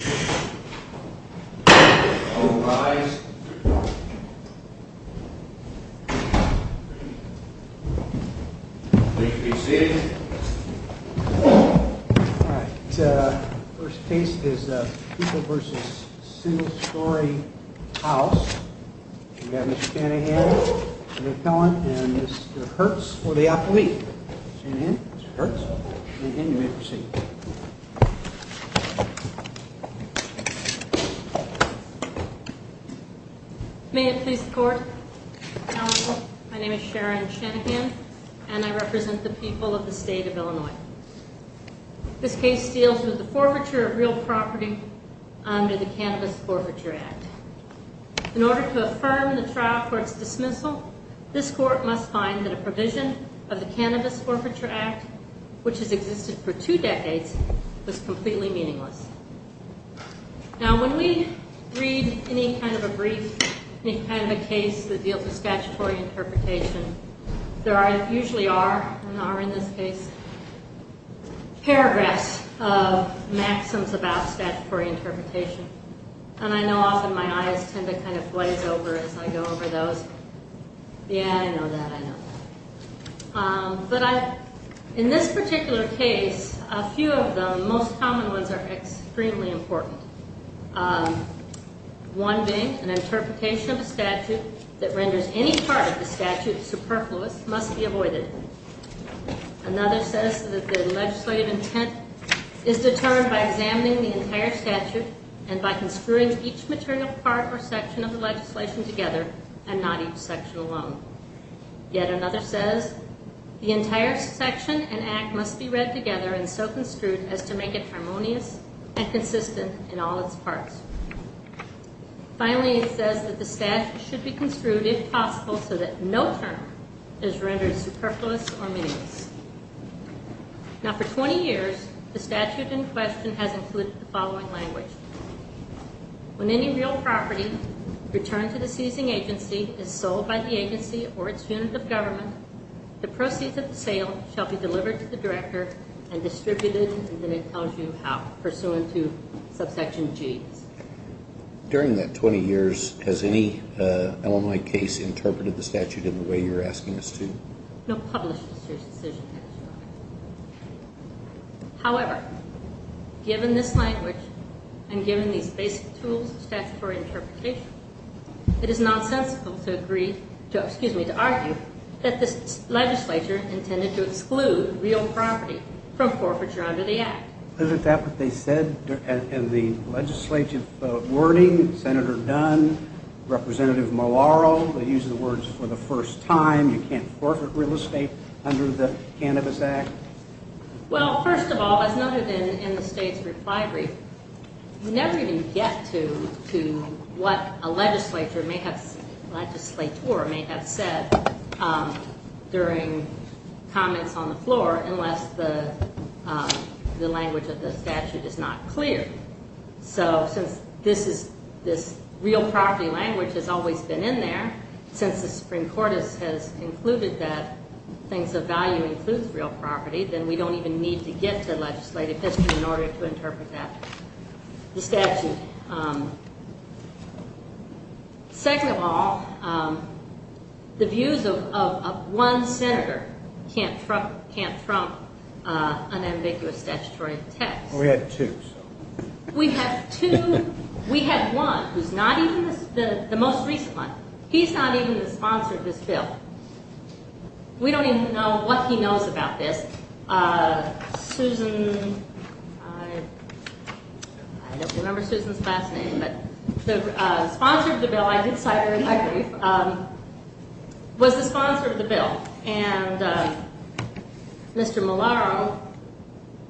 First case is People v. Single Story House. We have Mr. Canahan, the appellant, and Mr. Hertz for the appellee. Mr. Canahan, Mr. Hertz. Mr. Canahan, you may proceed. May it please the court. My name is Sharon Shanahan and I represent the people of the state of Illinois. This case deals with the forfeiture of real property under the Cannabis Forfeiture Act. In order to affirm the trial court's dismissal, this court must find that a provision of the Cannabis Forfeiture Act, which has existed for two decades, was completely meaningless. Now when we read any kind of a brief, any kind of a case that deals with statutory interpretation, there usually are, and are in this case, paragraphs of maxims about statutory interpretation. And I know often my eyes tend to kind of glaze over as I go over those. Yeah, I know that, I know that. But in this particular case, a few of the most common ones are extremely important. One being an interpretation of a statute that renders any part of the statute superfluous must be avoided. Another says that the legislative intent is determined by examining the entire statute and by construing each maternal part or section of the legislation together and not each section alone. Yet another says the entire section and act must be read together and so construed as to make it harmonious and consistent in all its parts. Finally, it says that the statute should be construed, if possible, so that no term is rendered superfluous or meaningless. Now for 20 years, the statute in question has included the following language. When any real property returned to the seizing agency is sold by the agency or its unit of government, the proceeds of the sale shall be delivered to the director and distributed, and then it tells you how, pursuant to subsection G's. During that 20 years, has any Illinois case interpreted the statute in the way you're asking us to? No published decision has drawn it. However, given this language and given these basic tools of statutory interpretation, it is nonsensical to agree to, excuse me, to argue that this legislature intended to exclude real property from forfeiture under the act. Isn't that what they said in the legislative wording? Senator Dunn, Representative Malauulu, they use the words for the first time. You can't forfeit real estate under the Cannabis Act. Well, first of all, as noted in the state's reply brief, you never even get to what a legislature may have said during comments on the floor unless the language of the statute is not clear. So since this real property language has always been in there, since the Supreme Court has concluded that things of value includes real property, then we don't even need to get to legislative history in order to interpret the statute. Second of all, the views of one senator can't trump unambiguous statutory text. We had two. We had two. We had one who's not even the most recent one. He's not even the sponsor of this bill. We don't even know what he knows about this. Susan, I don't remember Susan's last name, but the sponsor of the bill, I did cite her in my brief, was the sponsor of the bill. And Mr. Malauulu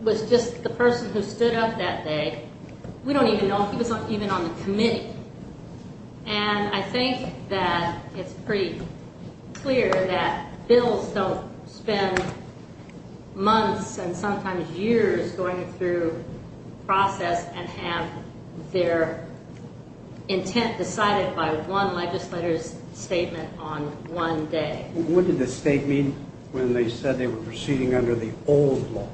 was just the person who stood up that day. We don't even know if he was even on the committee. And I think that it's pretty clear that bills don't spend months and sometimes years going through process and have their intent decided by one legislator's statement on one day. What did the state mean when they said they were proceeding under the old law?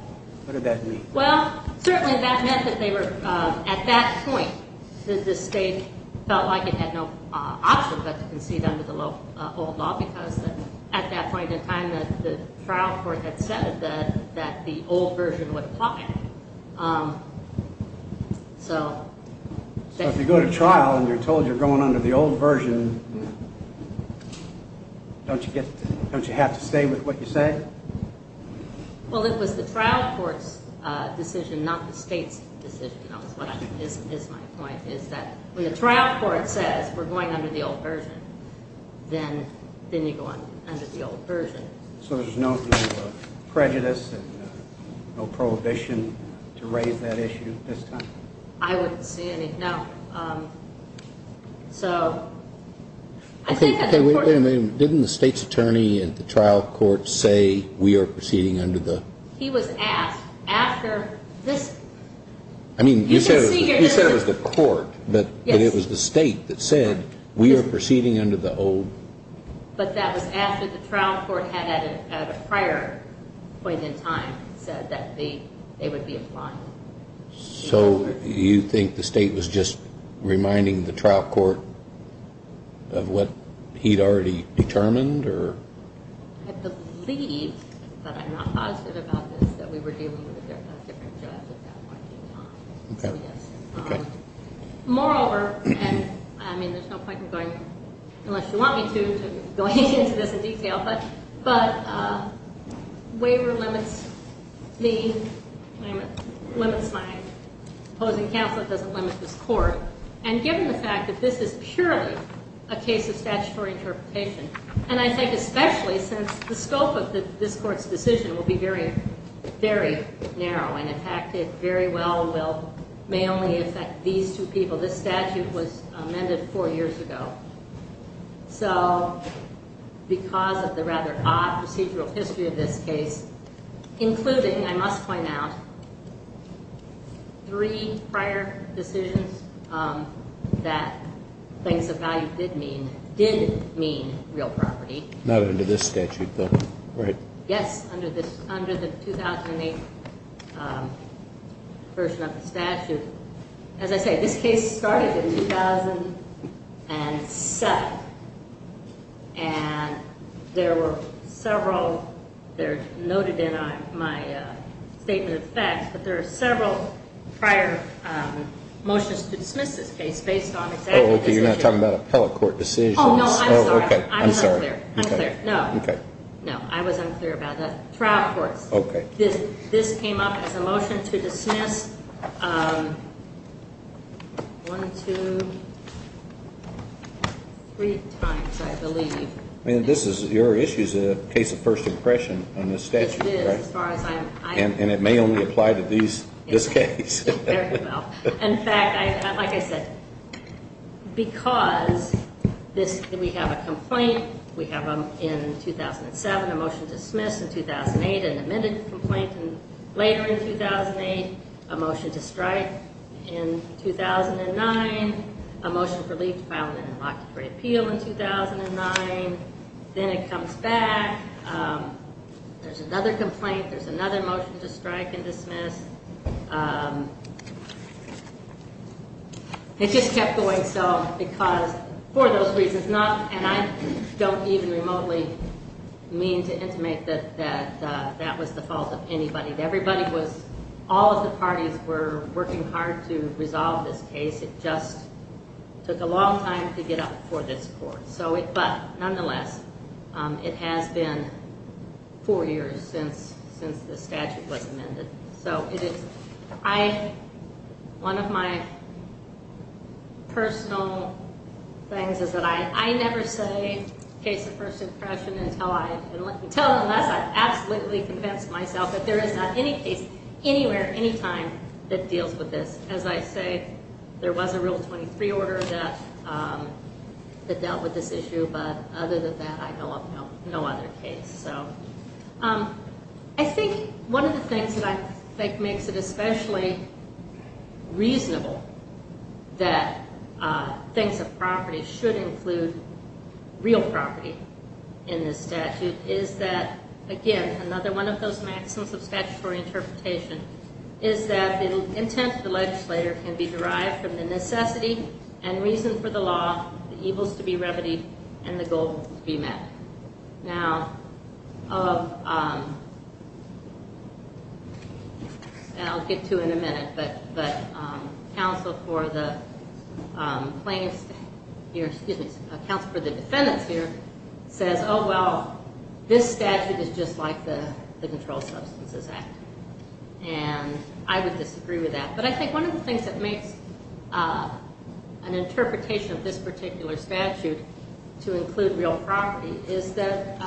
What did that mean? Well, certainly that meant that they were at that point that the state felt like it had no option but to concede under the old law because at that point in time the trial court had said that the old version would apply. So if you go to trial and you're told you're going under the old version, don't you have to stay with what you say? Well, it was the trial court's decision, not the state's decision, is my point, is that when the trial court says we're going under the old version, then you go under the old version. So there's no prejudice and no prohibition to raise that issue at this time? I wouldn't say any. Now, so I think that's important. Okay, wait a minute. Didn't the state's attorney at the trial court say we are proceeding under the? He was asked after this. I mean, you said it was the court. Yes. But it was the state that said we are proceeding under the old. But that was after the trial court had at a prior point in time said that they would be applying. So you think the state was just reminding the trial court of what he'd already determined or? I believe, but I'm not positive about this, that we were dealing with a different judge at that point in time. Okay. Moreover, and, I mean, there's no point in going, unless you want me to, to go into this in detail, but waiver limits me, limits my opposing counsel, it doesn't limit this court. And given the fact that this is purely a case of statutory interpretation, and I think especially since the scope of this court's decision will be very, very narrow, and in fact it very well will, may only affect these two people. This statute was amended four years ago. So because of the rather odd procedural history of this case, including, I must point out, three prior decisions that things of value did mean, did mean real property. Not under this statute, though. Right. Yes, under the 2008 version of the statute. As I say, this case started in 2007. And there were several, they're noted in my statement of facts, but there are several prior motions to dismiss this case based on exactly this issue. Oh, okay, you're not talking about appellate court decisions. Oh, no, I'm sorry. I'm sorry. I'm sorry. I'm not clear. I'm clear. No. Okay. No, I was unclear about that. Trial courts. Okay. This came up as a motion to dismiss one, two, three times, I believe. I mean, this is, your issue is a case of first impression on this statute, right? It is, as far as I'm. And it may only apply to these, this case. Very well. In fact, like I said, because we have a complaint, we have in 2007 a motion to dismiss, in 2008 an amended complaint, and later in 2008 a motion to strike, in 2009 a motion for leave to file an inoculatory appeal in 2009. Then it comes back. There's another complaint. There's another motion to strike and dismiss. It just kept going. So, because, for those reasons, not, and I don't even remotely mean to intimate that that was the fault of anybody. Everybody was, all of the parties were working hard to resolve this case. It just took a long time to get up before this court. So, but nonetheless, it has been four years since this statute was amended. So, it is, I, one of my personal things is that I never say case of first impression until I, until and unless I've absolutely convinced myself that there is not any case anywhere, any time that deals with this. As I say, there was a Rule 23 order that dealt with this issue, but other than that, I know of no other case. So, I think one of the things that I think makes it especially reasonable that things of property should include real property in this statute is that, again, another one of those maxims of statutory interpretation is that the intent of the legislator can be derived from the necessity and reason for the law, the evils to be remedied, and the goal to be met. Now, I'll get to it in a minute, but counsel for the plaintiffs here, excuse me, so this statute is just like the Controlled Substances Act, and I would disagree with that. But I think one of the things that makes an interpretation of this particular statute to include real property is that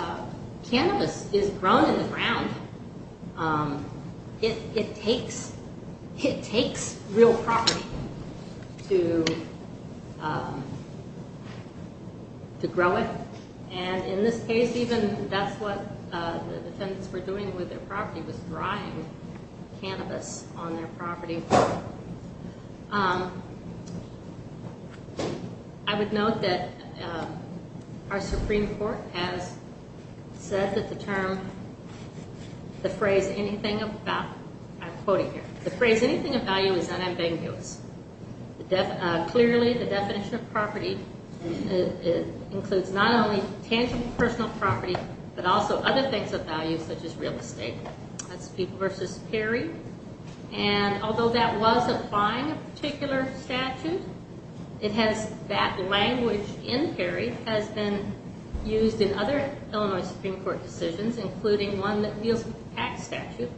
cannabis is grown in the ground. It takes real property to grow it. And in this case, even that's what the defendants were doing with their property, was drying cannabis on their property. I would note that our Supreme Court has said that the term, the phrase anything of value, I'm quoting here, the phrase anything of value is unambiguous. Clearly, the definition of property includes not only tangible personal property, but also other things of value, such as real estate. That's versus Perry, and although that was applying a particular statute, that language in Perry has been used in other Illinois Supreme Court decisions, including one that deals with the tax statute,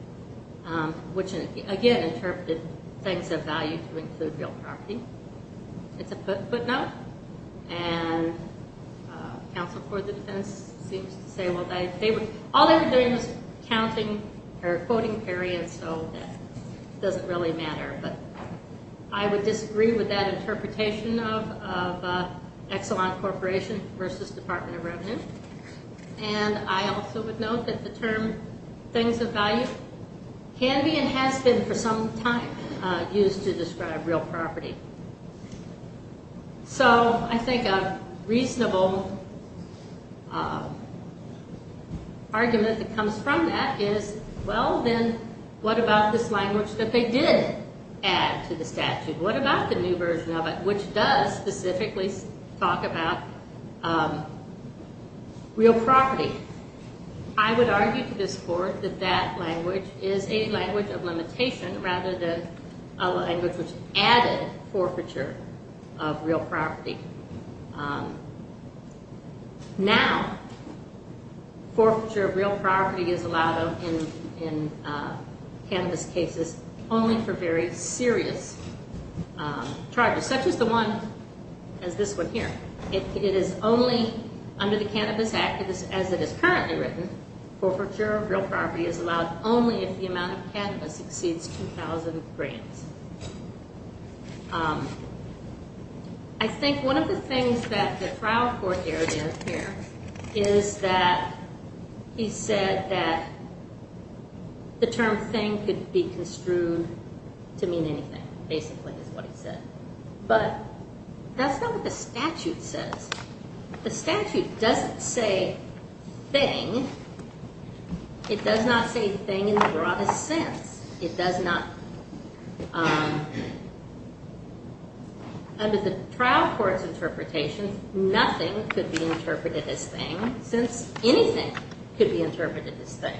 which, again, interpreted things of value to include real property. It's a footnote, and counsel for the defendants seems to say, well, all they were doing was counting or quoting Perry, and so it doesn't really matter. But I would disagree with that interpretation of Exelon Corporation versus Department of Revenue. And I also would note that the term things of value can be and has been for some time used to describe real property. So I think a reasonable argument that comes from that is, well, then what about this language that they did add to the statute? What about the new version of it, which does specifically talk about real property? I would argue to this court that that language is a language of limitation, rather than a language which added forfeiture of real property. Now, forfeiture of real property is allowed in cannabis cases only for very serious charges, such as the one, as this one here. It is only under the Cannabis Act, as it is currently written, forfeiture of real property is allowed only if the amount of cannabis exceeds 2,000 grams. I think one of the things that the trial court aired in here is that he said that the term thing could be construed to mean anything, basically, is what he said. But that's not what the statute says. The statute doesn't say thing. It does not say thing in the broadest sense. It does not. Under the trial court's interpretation, nothing could be interpreted as thing, since anything could be interpreted as thing.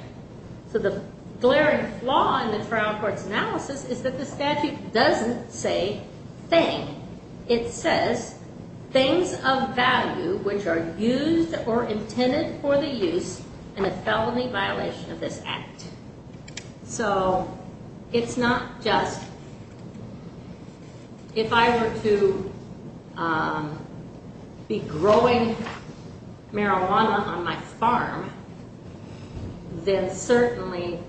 So the glaring flaw in the trial court's analysis is that the statute doesn't say thing. It says things of value which are used or intended for the use in a felony violation of this act. So it's not just, if I were to be growing marijuana on my farm, then certainly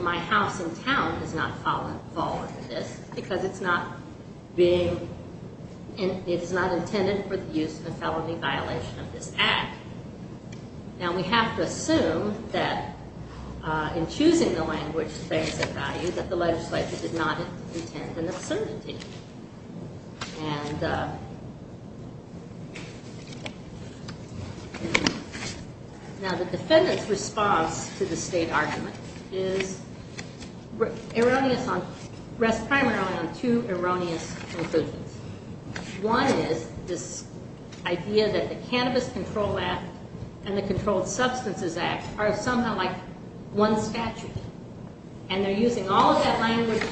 my house in town does not fall under this, because it's not intended for the use in a felony violation of this act. Now, we have to assume that in choosing the language, things of value, that the legislature did not intend an absurdity. Now, the defendant's response to the state argument rests primarily on two erroneous conclusions. One is this idea that the Cannabis Control Act and the Controlled Substances Act are somehow like one statute. And they're using all of that language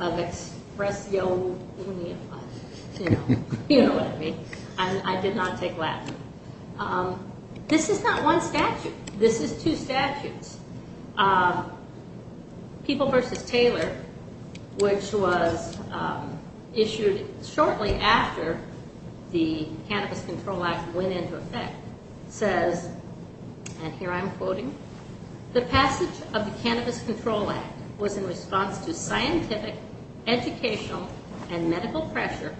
of expresso unia. You know what I mean. I did not take that. This is not one statute. This is two statutes. People v. Taylor, which was issued shortly after the Cannabis Control Act went into effect, says, and here I'm quoting, the passage of the Cannabis Control Act was in response to scientific, educational, and medical pressure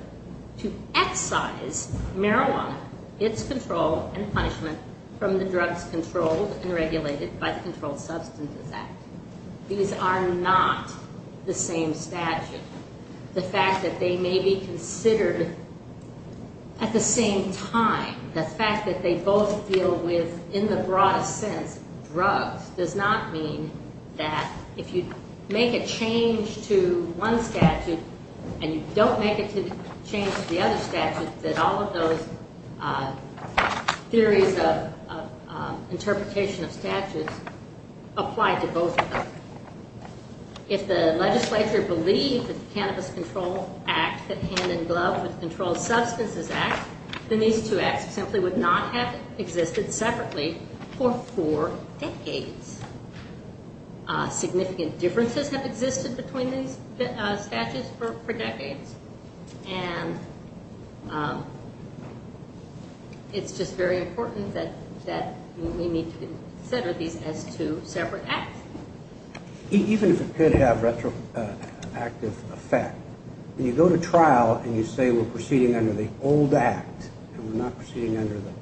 to excise marijuana, its control, and punishment from the drugs controlled and regulated by the Controlled Substances Act. These are not the same statute. The fact that they may be considered at the same time, the fact that they both deal with, in the broadest sense, drugs, does not mean that if you make a change to one statute and you don't make a change to the other statute, that all of those theories of interpretation of statutes apply to both of them. If the legislature believed that the Cannabis Control Act, that hand-in-glove with the Controlled Substances Act, then these two acts simply would not have existed separately for four decades. Significant differences have existed between these statutes for decades. And it's just very important that we need to consider these as two separate acts. Even if it could have retroactive effect, when you go to trial and you say we're proceeding under the old act and we're not proceeding under the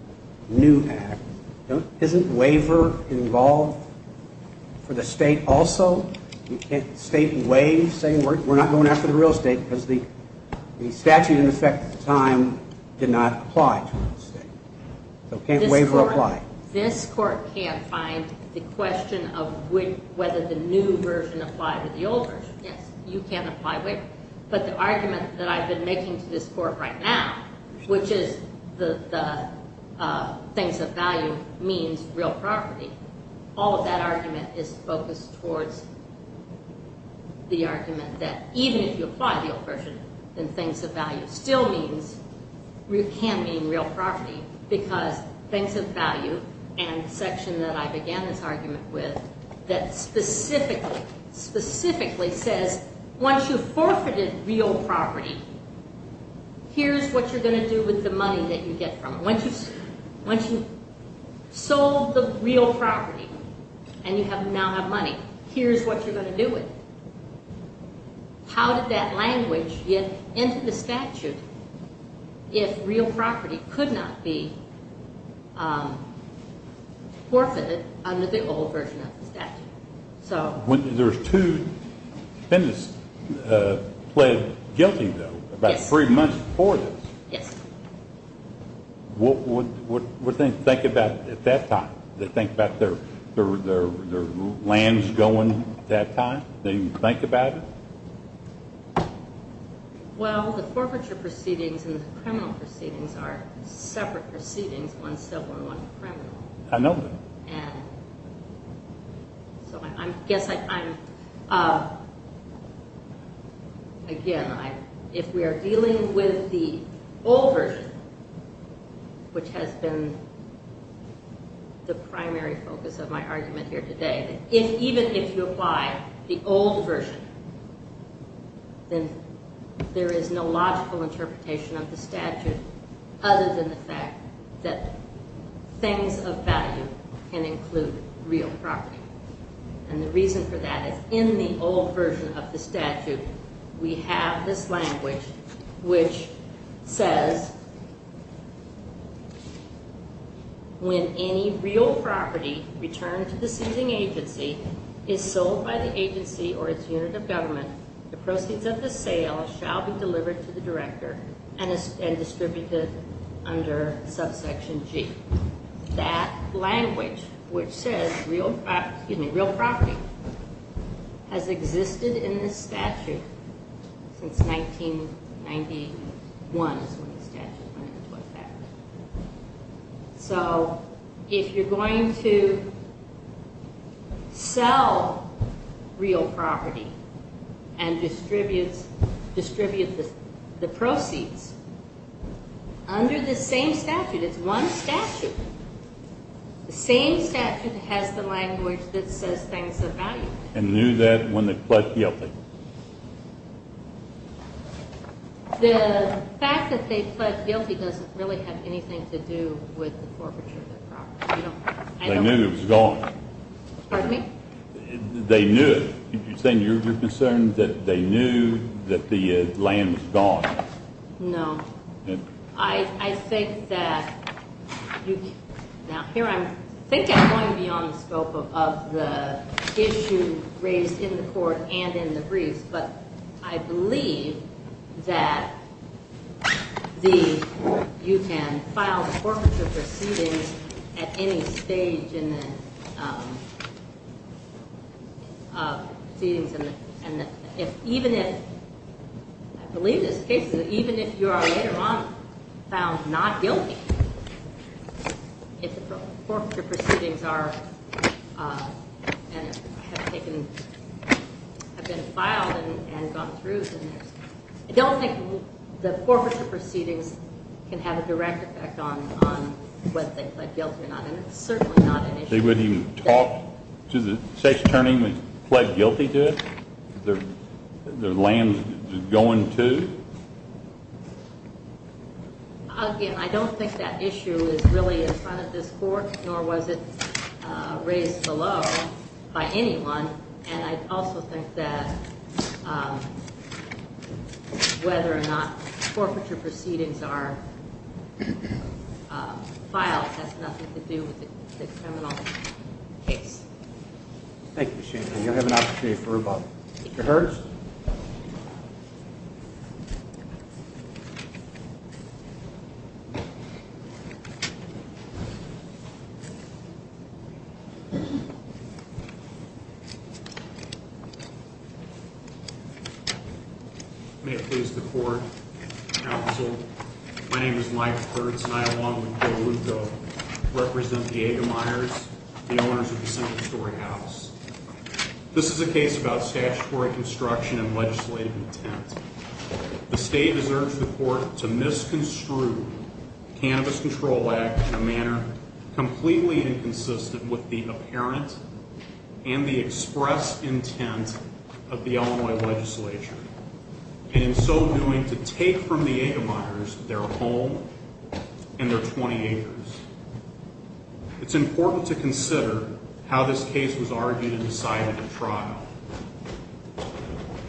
new act, isn't waiver involved for the state also? You can't state waive, saying we're not going after the real estate, because the statute in effect at the time did not apply to real estate. So can't waiver apply. This Court can't find the question of whether the new version applied to the old version. Yes, you can apply waiver. But the argument that I've been making to this Court right now, which is the things of value means real property, all of that argument is focused towards the argument that even if you apply the old version, then things of value still can mean real property, because things of value and the section that I began this argument with, that specifically says once you've forfeited real property, here's what you're going to do with the money that you get from it. Once you've sold the real property and you now have money, here's what you're going to do with it. How did that language get into the statute if real property could not be forfeited under the old version of the statute? When there's two defendants pled guilty, though, about three months before this, Yes. What did they think about at that time? Did they think about their lands going at that time? Did they think about it? Well, the forfeiture proceedings and the criminal proceedings are separate proceedings. One's civil and one's criminal. I know that. And so I guess I'm, again, if we are dealing with the old version, which has been the primary focus of my argument here today, that even if you apply the old version, then there is no logical interpretation of the statute other than the fact that things of value can include real property. And the reason for that is in the old version of the statute, we have this language which says, when any real property returned to the seizing agency is sold by the agency or its unit of government, the proceeds of the sale shall be delivered to the director and distributed under subsection G. That language, which says real property, has existed in the statute since 1991. So if you're going to sell real property and distribute the proceeds, under the same statute, it's one statute, the same statute has the language that says things of value. And knew that when they pled guilty? The fact that they pled guilty doesn't really have anything to do with the forfeiture of their property. They knew it was gone. Pardon me? They knew it. You're saying you're concerned that they knew that the land was gone? No. I think that, now here I'm, I think I'm going beyond the scope of the issue raised in the court and in the briefs, but I believe that you can file forfeiture proceedings at any stage in the proceedings, and even if, I believe this case is, even if you are later on found not guilty, if the forfeiture proceedings are, and have taken, have been filed and gone through, I don't think the forfeiture proceedings can have a direct effect on whether they pled guilty or not. And it's certainly not an issue. They wouldn't even talk to the sex attorney who pled guilty to it? Their land is going to? Again, I don't think that issue is really in front of this court, nor was it raised below by anyone, and I also think that whether or not forfeiture proceedings are filed has nothing to do with the criminal case. Thank you, Shane, and you'll have an opportunity for rebuttal. Mr. Hertz? Mr. Hertz? May it please the court, counsel, my name is Mike Hertz, and I, along with Joe Luto, represent Diego Myers, the owners of the Central Story House. This is a case about statutory construction and legislative intent. The state has urged the court to misconstrue the Cannabis Control Act in a manner completely inconsistent with the apparent and the express intent of the Illinois legislature, and in so doing to take from the Diego Myers their home and their 20 acres. It's important to consider how this case was argued and decided at trial.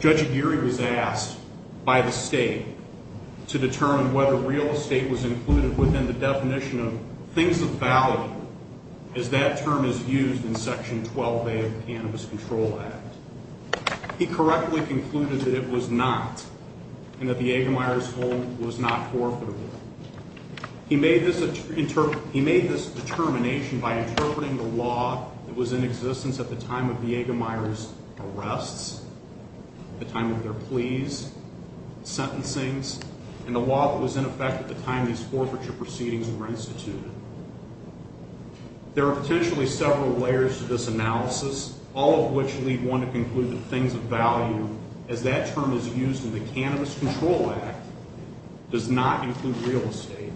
Judge Aguirre was asked by the state to determine whether real estate was included within the definition of things of value, as that term is used in Section 12A of the Cannabis Control Act. He correctly concluded that it was not, and that the Diego Myers home was not forfeitable. He made this determination by interpreting the law that was in existence at the time of Diego Myers' arrests, the time of their pleas, sentencings, and the law that was in effect at the time these forfeiture proceedings were instituted. There are potentially several layers to this analysis, all of which lead one to conclude that things of value, as that term is used in the Cannabis Control Act, does not include real estate.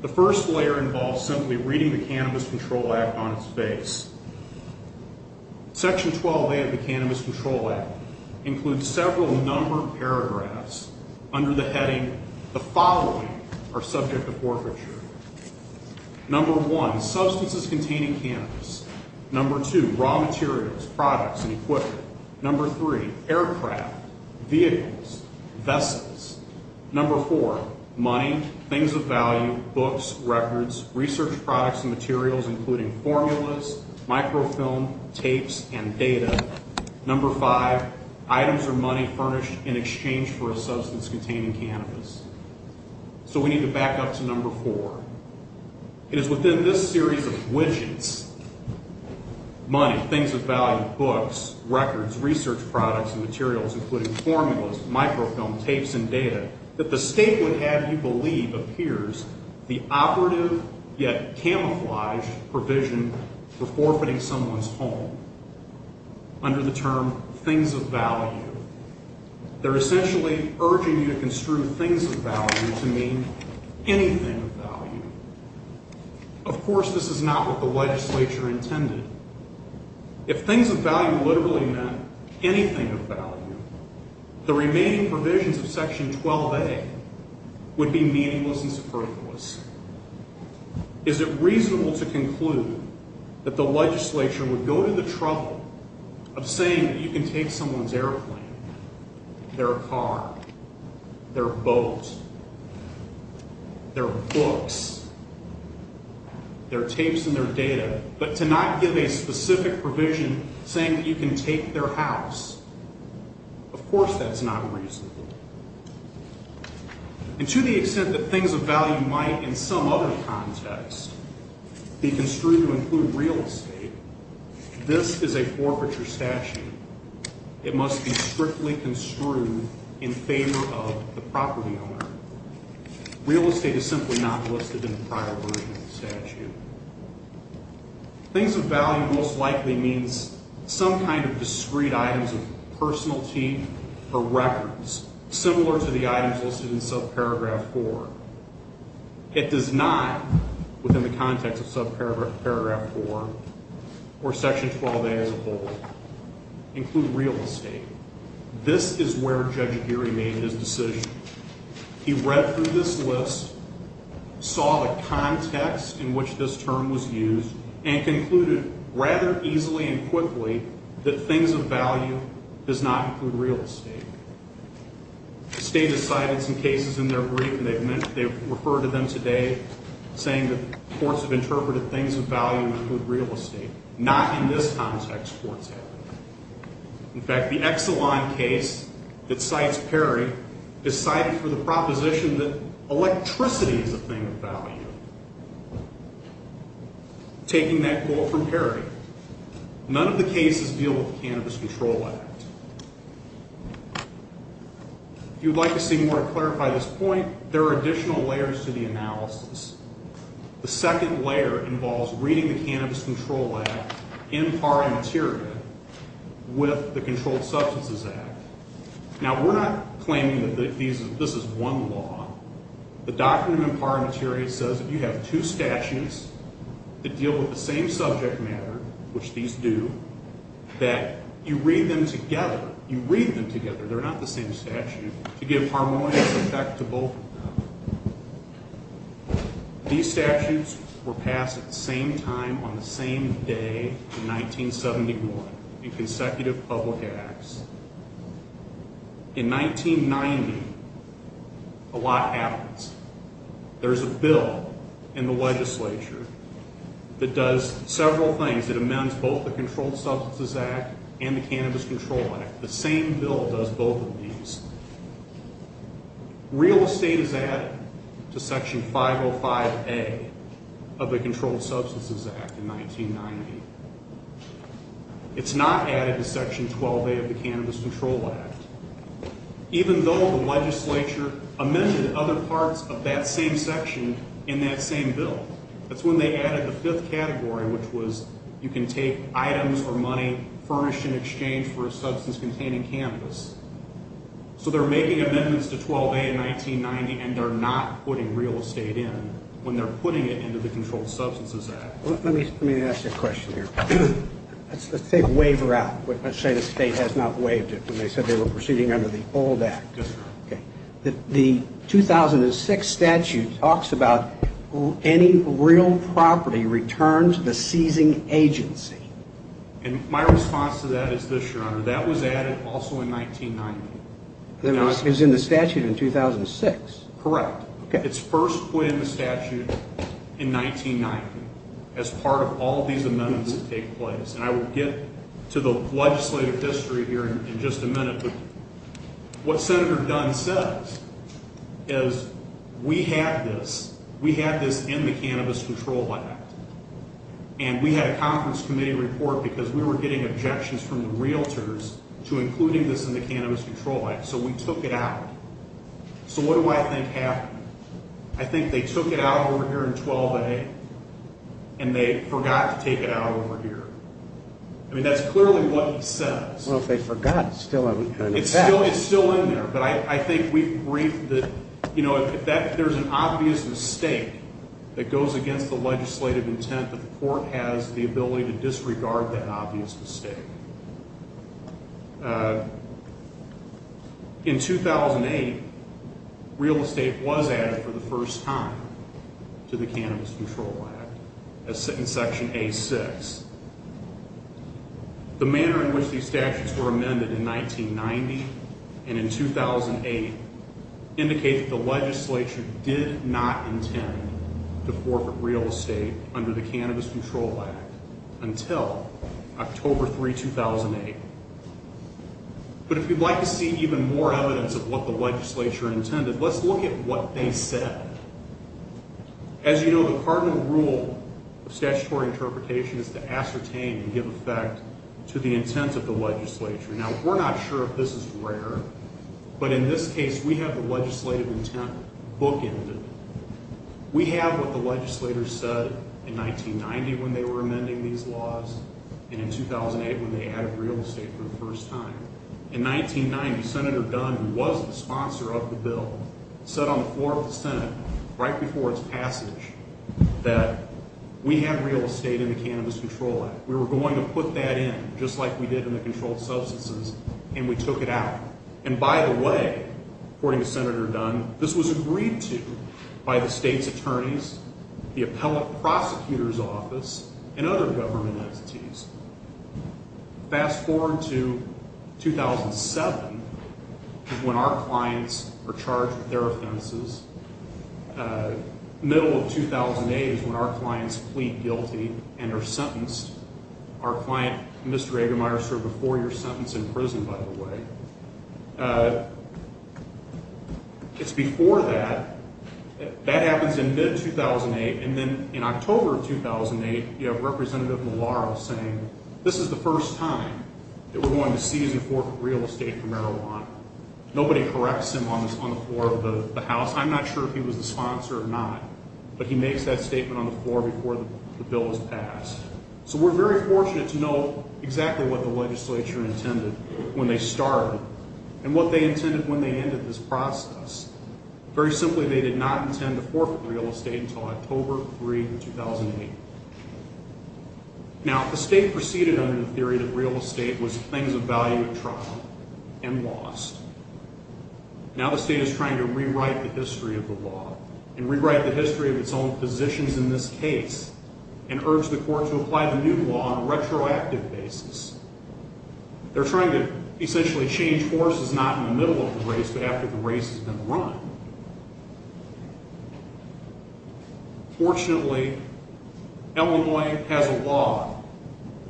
The first layer involves simply reading the Cannabis Control Act on its face. Section 12A of the Cannabis Control Act includes several number of paragraphs under the heading, the following are subject to forfeiture. Number one, substances containing cannabis. Number two, raw materials, products, and equipment. Number three, aircraft, vehicles, vessels. Number four, money, things of value, books, records, research products and materials, including formulas, microfilm, tapes, and data. Number five, items or money furnished in exchange for a substance containing cannabis. So we need to back up to number four. It is within this series of widgets, money, things of value, books, records, research products, and materials, including formulas, microfilm, tapes, and data, that the state would have you believe appears the operative yet camouflaged provision for forfeiting someone's home. Under the term things of value, they're essentially urging you to construe things of value to mean anything of value. Of course, this is not what the legislature intended. If things of value literally meant anything of value, the remaining provisions of Section 12A would be meaningless and superfluous. Is it reasonable to conclude that the legislature would go to the trouble of saying you can take someone's airplane, their car, their boat, their books, their tapes and their data, but to not give a specific provision saying that you can take their house? Of course that's not reasonable. And to the extent that things of value might in some other context be construed to include real estate, this is a forfeiture statute. It must be strictly construed in favor of the property owner. Real estate is simply not listed in the prior version of the statute. Things of value most likely means some kind of discrete items of personality or records, similar to the items listed in subparagraph 4. It does not, within the context of subparagraph 4 or Section 12A as a whole, include real estate. This is where Judge Aguirre made his decision. He read through this list, saw the context in which this term was used, and concluded rather easily and quickly that things of value does not include real estate. The State has cited some cases in their brief, and they've referred to them today, saying that courts have interpreted things of value to include real estate. Not in this context, courts have. In fact, the Exelon case that cites Perry is cited for the proposition that electricity is a thing of value. Taking that quote from Perry, none of the cases deal with the Cannabis Control Act. If you'd like to see more to clarify this point, there are additional layers to the analysis. The second layer involves reading the Cannabis Control Act in pari materia with the Controlled Substances Act. Now, we're not claiming that this is one law. The document in pari materia says that you have two statutes that deal with the same subject matter, which these do, that you read them together. You read them together. They're not the same statute. To give harmonious effect to both of them. These statutes were passed at the same time on the same day in 1971 in consecutive public acts. In 1990, a lot happens. There's a bill in the legislature that does several things. It amends both the Controlled Substances Act and the Cannabis Control Act. The same bill does both of these. Real estate is added to Section 505A of the Controlled Substances Act in 1990. It's not added to Section 12A of the Cannabis Control Act, even though the legislature amended other parts of that same section in that same bill. That's when they added the fifth category, which was you can take items or money furnished in exchange for a substance-containing cannabis. So they're making amendments to 12A in 1990, and they're not putting real estate in when they're putting it into the Controlled Substances Act. Let me ask you a question here. Let's take waiver out. Let's say the state has not waived it when they said they were proceeding under the old act. Yes, sir. The 2006 statute talks about any real property returned to the seizing agency. And my response to that is this, Your Honor. That was added also in 1990. It was in the statute in 2006. Correct. It's first put in the statute in 1990 as part of all these amendments that take place. And I will get to the legislative history here in just a minute. But what Senator Dunn says is we had this. We had this in the Cannabis Control Act. And we had a conference committee report because we were getting objections from the realtors to including this in the Cannabis Control Act. So we took it out. So what do I think happened? I think they took it out over here in 12A, and they forgot to take it out over here. I mean, that's clearly what he says. Well, if they forgot, it's still in there. It's still in there. But I think we've briefed that, you know, there's an obvious mistake that goes against the legislative intent that the court has the ability to disregard that obvious mistake. In 2008, real estate was added for the first time to the Cannabis Control Act in Section A6. The manner in which these statutes were amended in 1990 and in 2008 indicate that the legislature did not intend to forfeit real estate under the Cannabis Control Act until October 3, 2008. But if you'd like to see even more evidence of what the legislature intended, let's look at what they said. As you know, the cardinal rule of statutory interpretation is to ascertain and give effect to the intent of the legislature. Now, we're not sure if this is rare, but in this case, we have the legislative intent bookended. We have what the legislators said in 1990 when they were amending these laws and in 2008 when they added real estate for the first time. In 1990, Senator Dunn, who was the sponsor of the bill, said on the floor of the Senate right before its passage that we had real estate in the Cannabis Control Act. We were going to put that in just like we did in the controlled substances, and we took it out. And by the way, according to Senator Dunn, this was agreed to by the state's attorneys, the appellate prosecutor's office, and other government entities. Fast forward to 2007 is when our clients are charged with their offenses. Middle of 2008 is when our clients plead guilty and are sentenced. Our client, Mr. Eggemeier, served a four-year sentence in prison, by the way. It's before that. That happens in mid-2008, and then in October of 2008, you have Representative Malauulu saying this is the first time that we're going to seize and forfeit real estate for marijuana. Nobody corrects him on the floor of the House. I'm not sure if he was the sponsor or not, but he makes that statement on the floor before the bill is passed. So we're very fortunate to know exactly what the legislature intended when they started and what they intended when they ended this process. Very simply, they did not intend to forfeit real estate until October 3, 2008. Now, the state proceeded under the theory that real estate was things of value at trial and lost. Now the state is trying to rewrite the history of the law and rewrite the history of its own positions in this case and urge the court to apply the new law on a retroactive basis. They're trying to essentially change courses, not in the middle of the race, but after the race has been run. Fortunately, Illinois has a law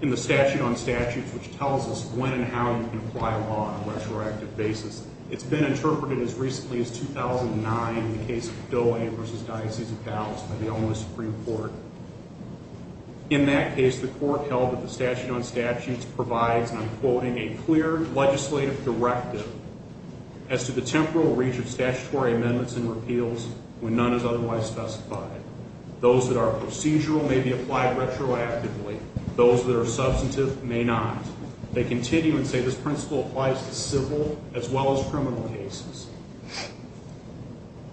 in the statute on statutes which tells us when and how you can apply a law on a retroactive basis. It's been interpreted as recently as 2009 in the case of Doe versus Diocese of Dallas by the Illinois Supreme Court. In that case, the court held that the statute on statutes provides, and I'm quoting, a clear legislative directive as to the temporal reach of statutory amendments and repeals when none is otherwise specified. Those that are procedural may be applied retroactively. Those that are substantive may not. They continue and say this principle applies to civil as well as criminal cases.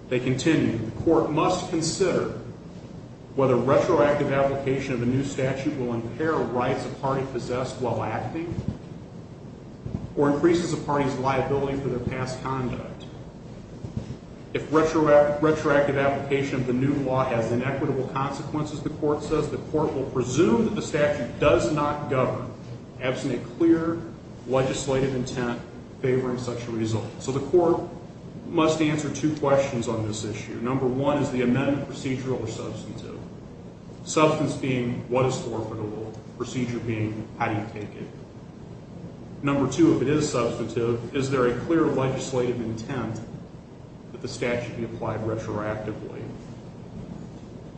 They continue, the court must consider whether retroactive application of a new statute will impair rights a party possessed while acting or increases a party's liability for their past conduct. If retroactive application of the new law has inequitable consequences, the court says, the court will presume that the statute does not govern, absent a clear legislative intent favoring such a result. So the court must answer two questions on this issue. Number one, is the amendment procedural or substantive? Substance being, what is forfeitable? Procedure being, how do you take it? Number two, if it is substantive, is there a clear legislative intent that the statute be applied retroactively?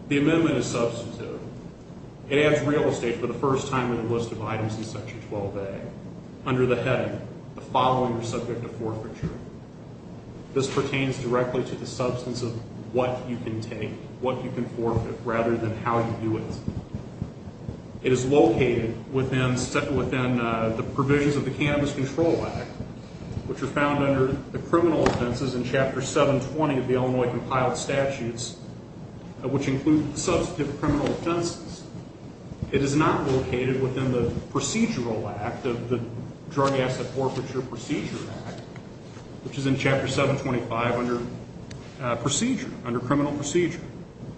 The amendment is substantive. It adds real estate for the first time in the list of items in Section 12A. Under the heading, the following are subject to forfeiture. This pertains directly to the substance of what you can take, what you can forfeit, rather than how you do it. It is located within the provisions of the Cannabis Control Act, which are found under the criminal offenses in Chapter 720 of the Illinois Compiled Statutes, which include substantive criminal offenses. It is not located within the procedural act of the Drug Asset Forfeiture Procedure Act, which is in Chapter 725 under procedure, under criminal procedure.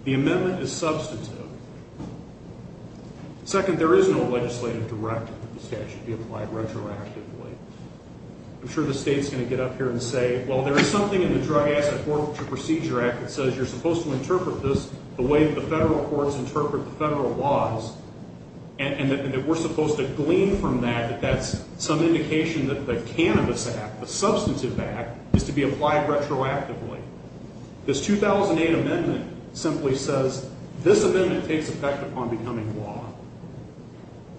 The amendment is substantive. Second, there is no legislative directive that the statute be applied retroactively. I'm sure the state's going to get up here and say, well, there is something in the Drug Asset Forfeiture Procedure Act that says you're supposed to interpret this the way that the federal courts interpret the federal laws, and that we're supposed to glean from that that that's some indication that the Cannabis Act, the substantive act, is to be applied retroactively. This 2008 amendment simply says this amendment takes effect upon becoming law.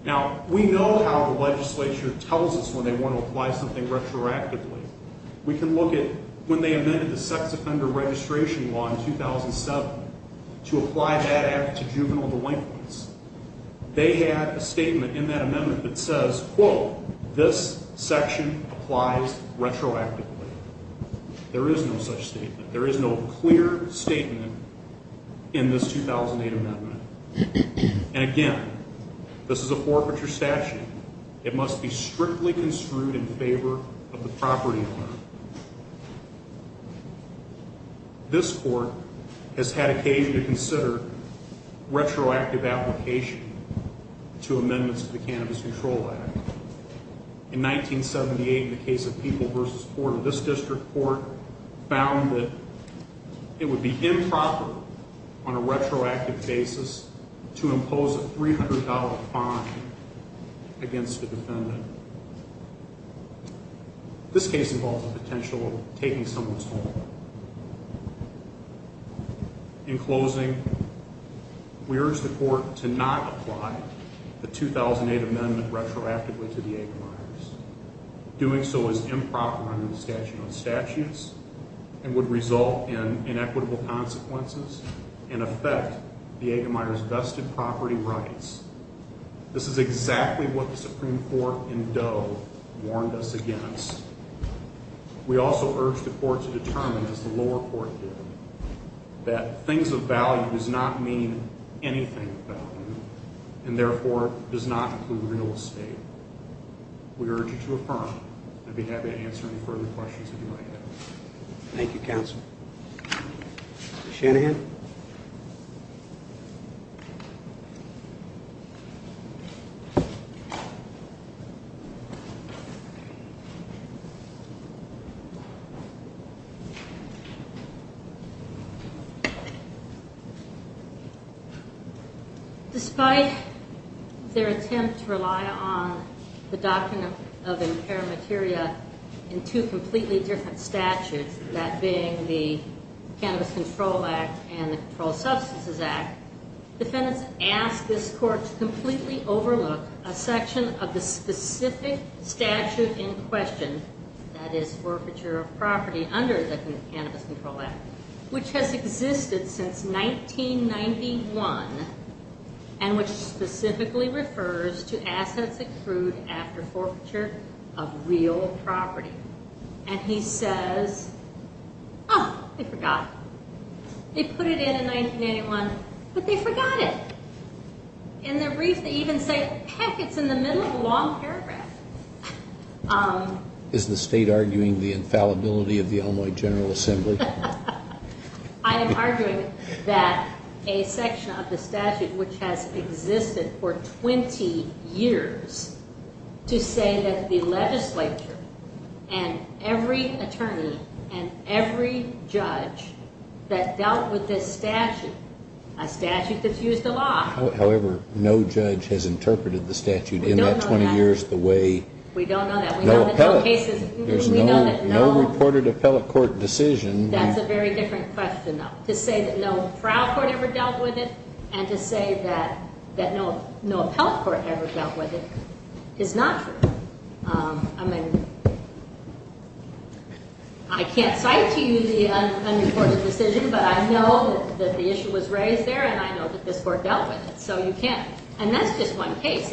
Now, we know how the legislature tells us when they want to apply something retroactively. We can look at when they amended the sex offender registration law in 2007 to apply that act to juvenile delinquents. They had a statement in that amendment that says, quote, this section applies retroactively. There is no such statement. There is no clear statement in this 2008 amendment. And again, this is a forfeiture statute. Again, it must be strictly construed in favor of the property owner. This court has had occasion to consider retroactive application to amendments to the Cannabis Control Act. In 1978, in the case of People v. Ford, this district court found that it would be improper on a retroactive basis to impose a $300 fine against a defendant. This case involves the potential of taking someone's home. In closing, we urge the court to not apply the 2008 amendment retroactively to the Egemeyers. Doing so is improper under the statute of statutes and would result in inequitable consequences and affect the Egemeyers' vested property rights. This is exactly what the Supreme Court in Doe warned us against. We also urge the court to determine, as the lower court did, that things of value does not mean anything of value and therefore does not include real estate. We urge you to affirm. I'd be happy to answer any further questions that you might have. Thank you, counsel. Ms. Shanahan? Despite their attempt to rely on the doctrine of impaired materia in two completely different statutes, that being the Cannabis Control Act and the Controlled Substances Act, defendants ask this court to completely overlook a section of the specific statute in question, that is forfeiture of property under the Cannabis Control Act, which has existed since 1991 and which specifically refers to assets accrued after forfeiture of real property. And he says, oh, they forgot. They put it in in 1991, but they forgot it. In their brief, they even say, heck, it's in the middle of a long paragraph. Is the state arguing the infallibility of the Illinois General Assembly? I am arguing that a section of the statute which has existed for 20 years to say that the legislature and every attorney and every judge that dealt with this statute, a statute that's used a lot. However, no judge has interpreted the statute in that 20 years the way. We don't know that. No appellate. There's no reported appellate court decision. That's a very different question, though. To say that no trial court ever dealt with it and to say that no appellate court ever dealt with it is not true. I mean, I can't cite to you the unreported decision, but I know that the issue was raised there, and I know that this court dealt with it, so you can't. And that's just one case.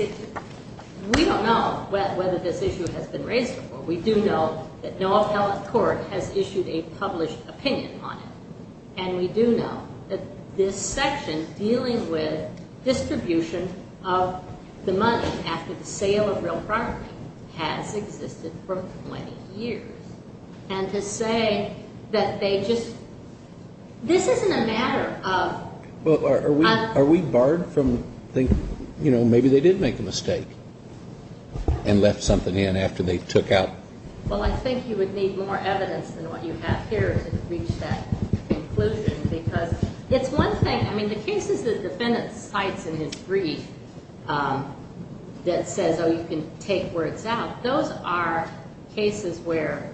We don't know whether this issue has been raised before. We do know that no appellate court has issued a published opinion on it. And we do know that this section dealing with distribution of the money after the sale of real property has existed for 20 years. And to say that they just this isn't a matter of. Well, are we barred from thinking, you know, maybe they did make a mistake and left something in after they took out. Well, I think you would need more evidence than what you have here to reach that conclusion, because it's one thing. I mean, the cases the defendant cites in his brief that says, oh, you can take words out, those are cases where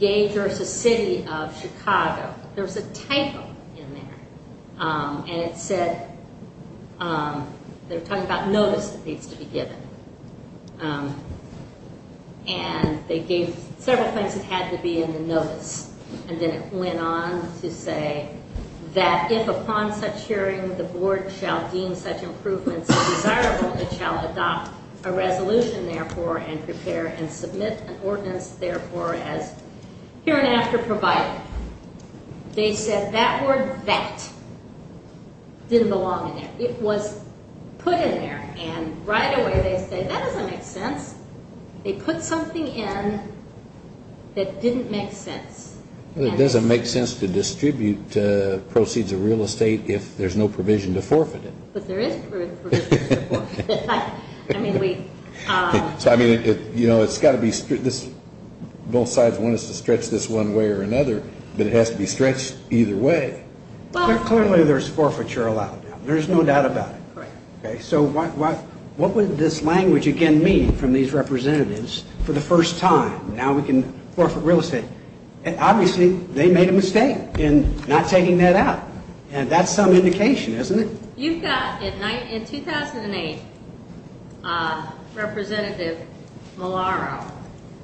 Gage versus City of Chicago, there was a title in there, and it said they were talking about notice that needs to be given. And they gave several things that had to be in the notice, and then it went on to say that if upon such hearing the board shall deem such improvements desirable, it shall adopt a resolution, therefore, and prepare and submit an ordinance, therefore, as hereinafter provided. They said that word that didn't belong in there. It was put in there. And right away they say that doesn't make sense. They put something in that didn't make sense. It doesn't make sense to distribute proceeds of real estate if there's no provision to forfeit it. But there is provision to forfeit it. I mean, we. So, I mean, you know, it's got to be. Both sides want us to stretch this one way or another, but it has to be stretched either way. But clearly there's forfeiture allowed. There's no doubt about it. So what would this language, again, mean from these representatives for the first time? Now we can forfeit real estate. Obviously they made a mistake in not taking that out. And that's some indication, isn't it? You've got, in 2008, Representative Malauulu,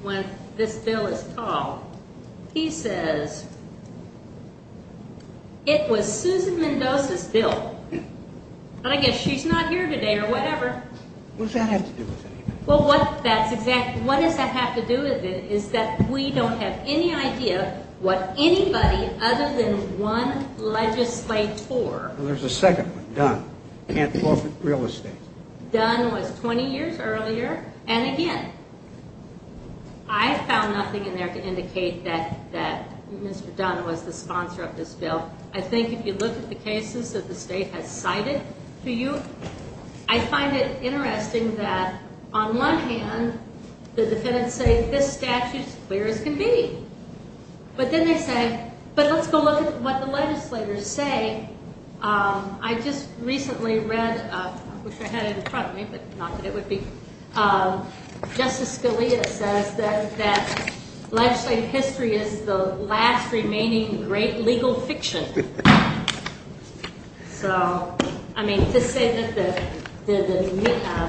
when this bill is called, he says it was Susan Mendoza's bill. And I guess she's not here today or whatever. What does that have to do with anything? Well, what that's exactly. What does that have to do with it is that we don't have any idea what anybody other than one legislator. There's a second one, Dunn. Can't forfeit real estate. Dunn was 20 years earlier. And again, I found nothing in there to indicate that Mr. Dunn was the sponsor of this bill. I think if you look at the cases that the state has cited to you, I find it interesting that on one hand the defendants say this statute is as clear as can be. But then they say, but let's go look at what the legislators say. I just recently read, I wish I had it in front of me, but not that it would be. Justice Scalia says that legislative history is the last remaining great legal fiction. So, I mean, to say that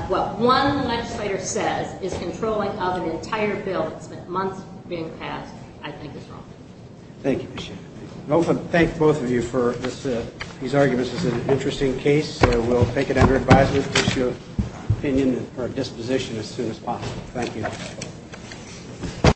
what one legislator says is controlling of an entire bill that spent months being passed, I think is wrong. Thank you, Ms. Shaffer. I want to thank both of you for these arguments. It's an interesting case. We'll take it under advisement to issue an opinion and for a disposition as soon as possible. Thank you.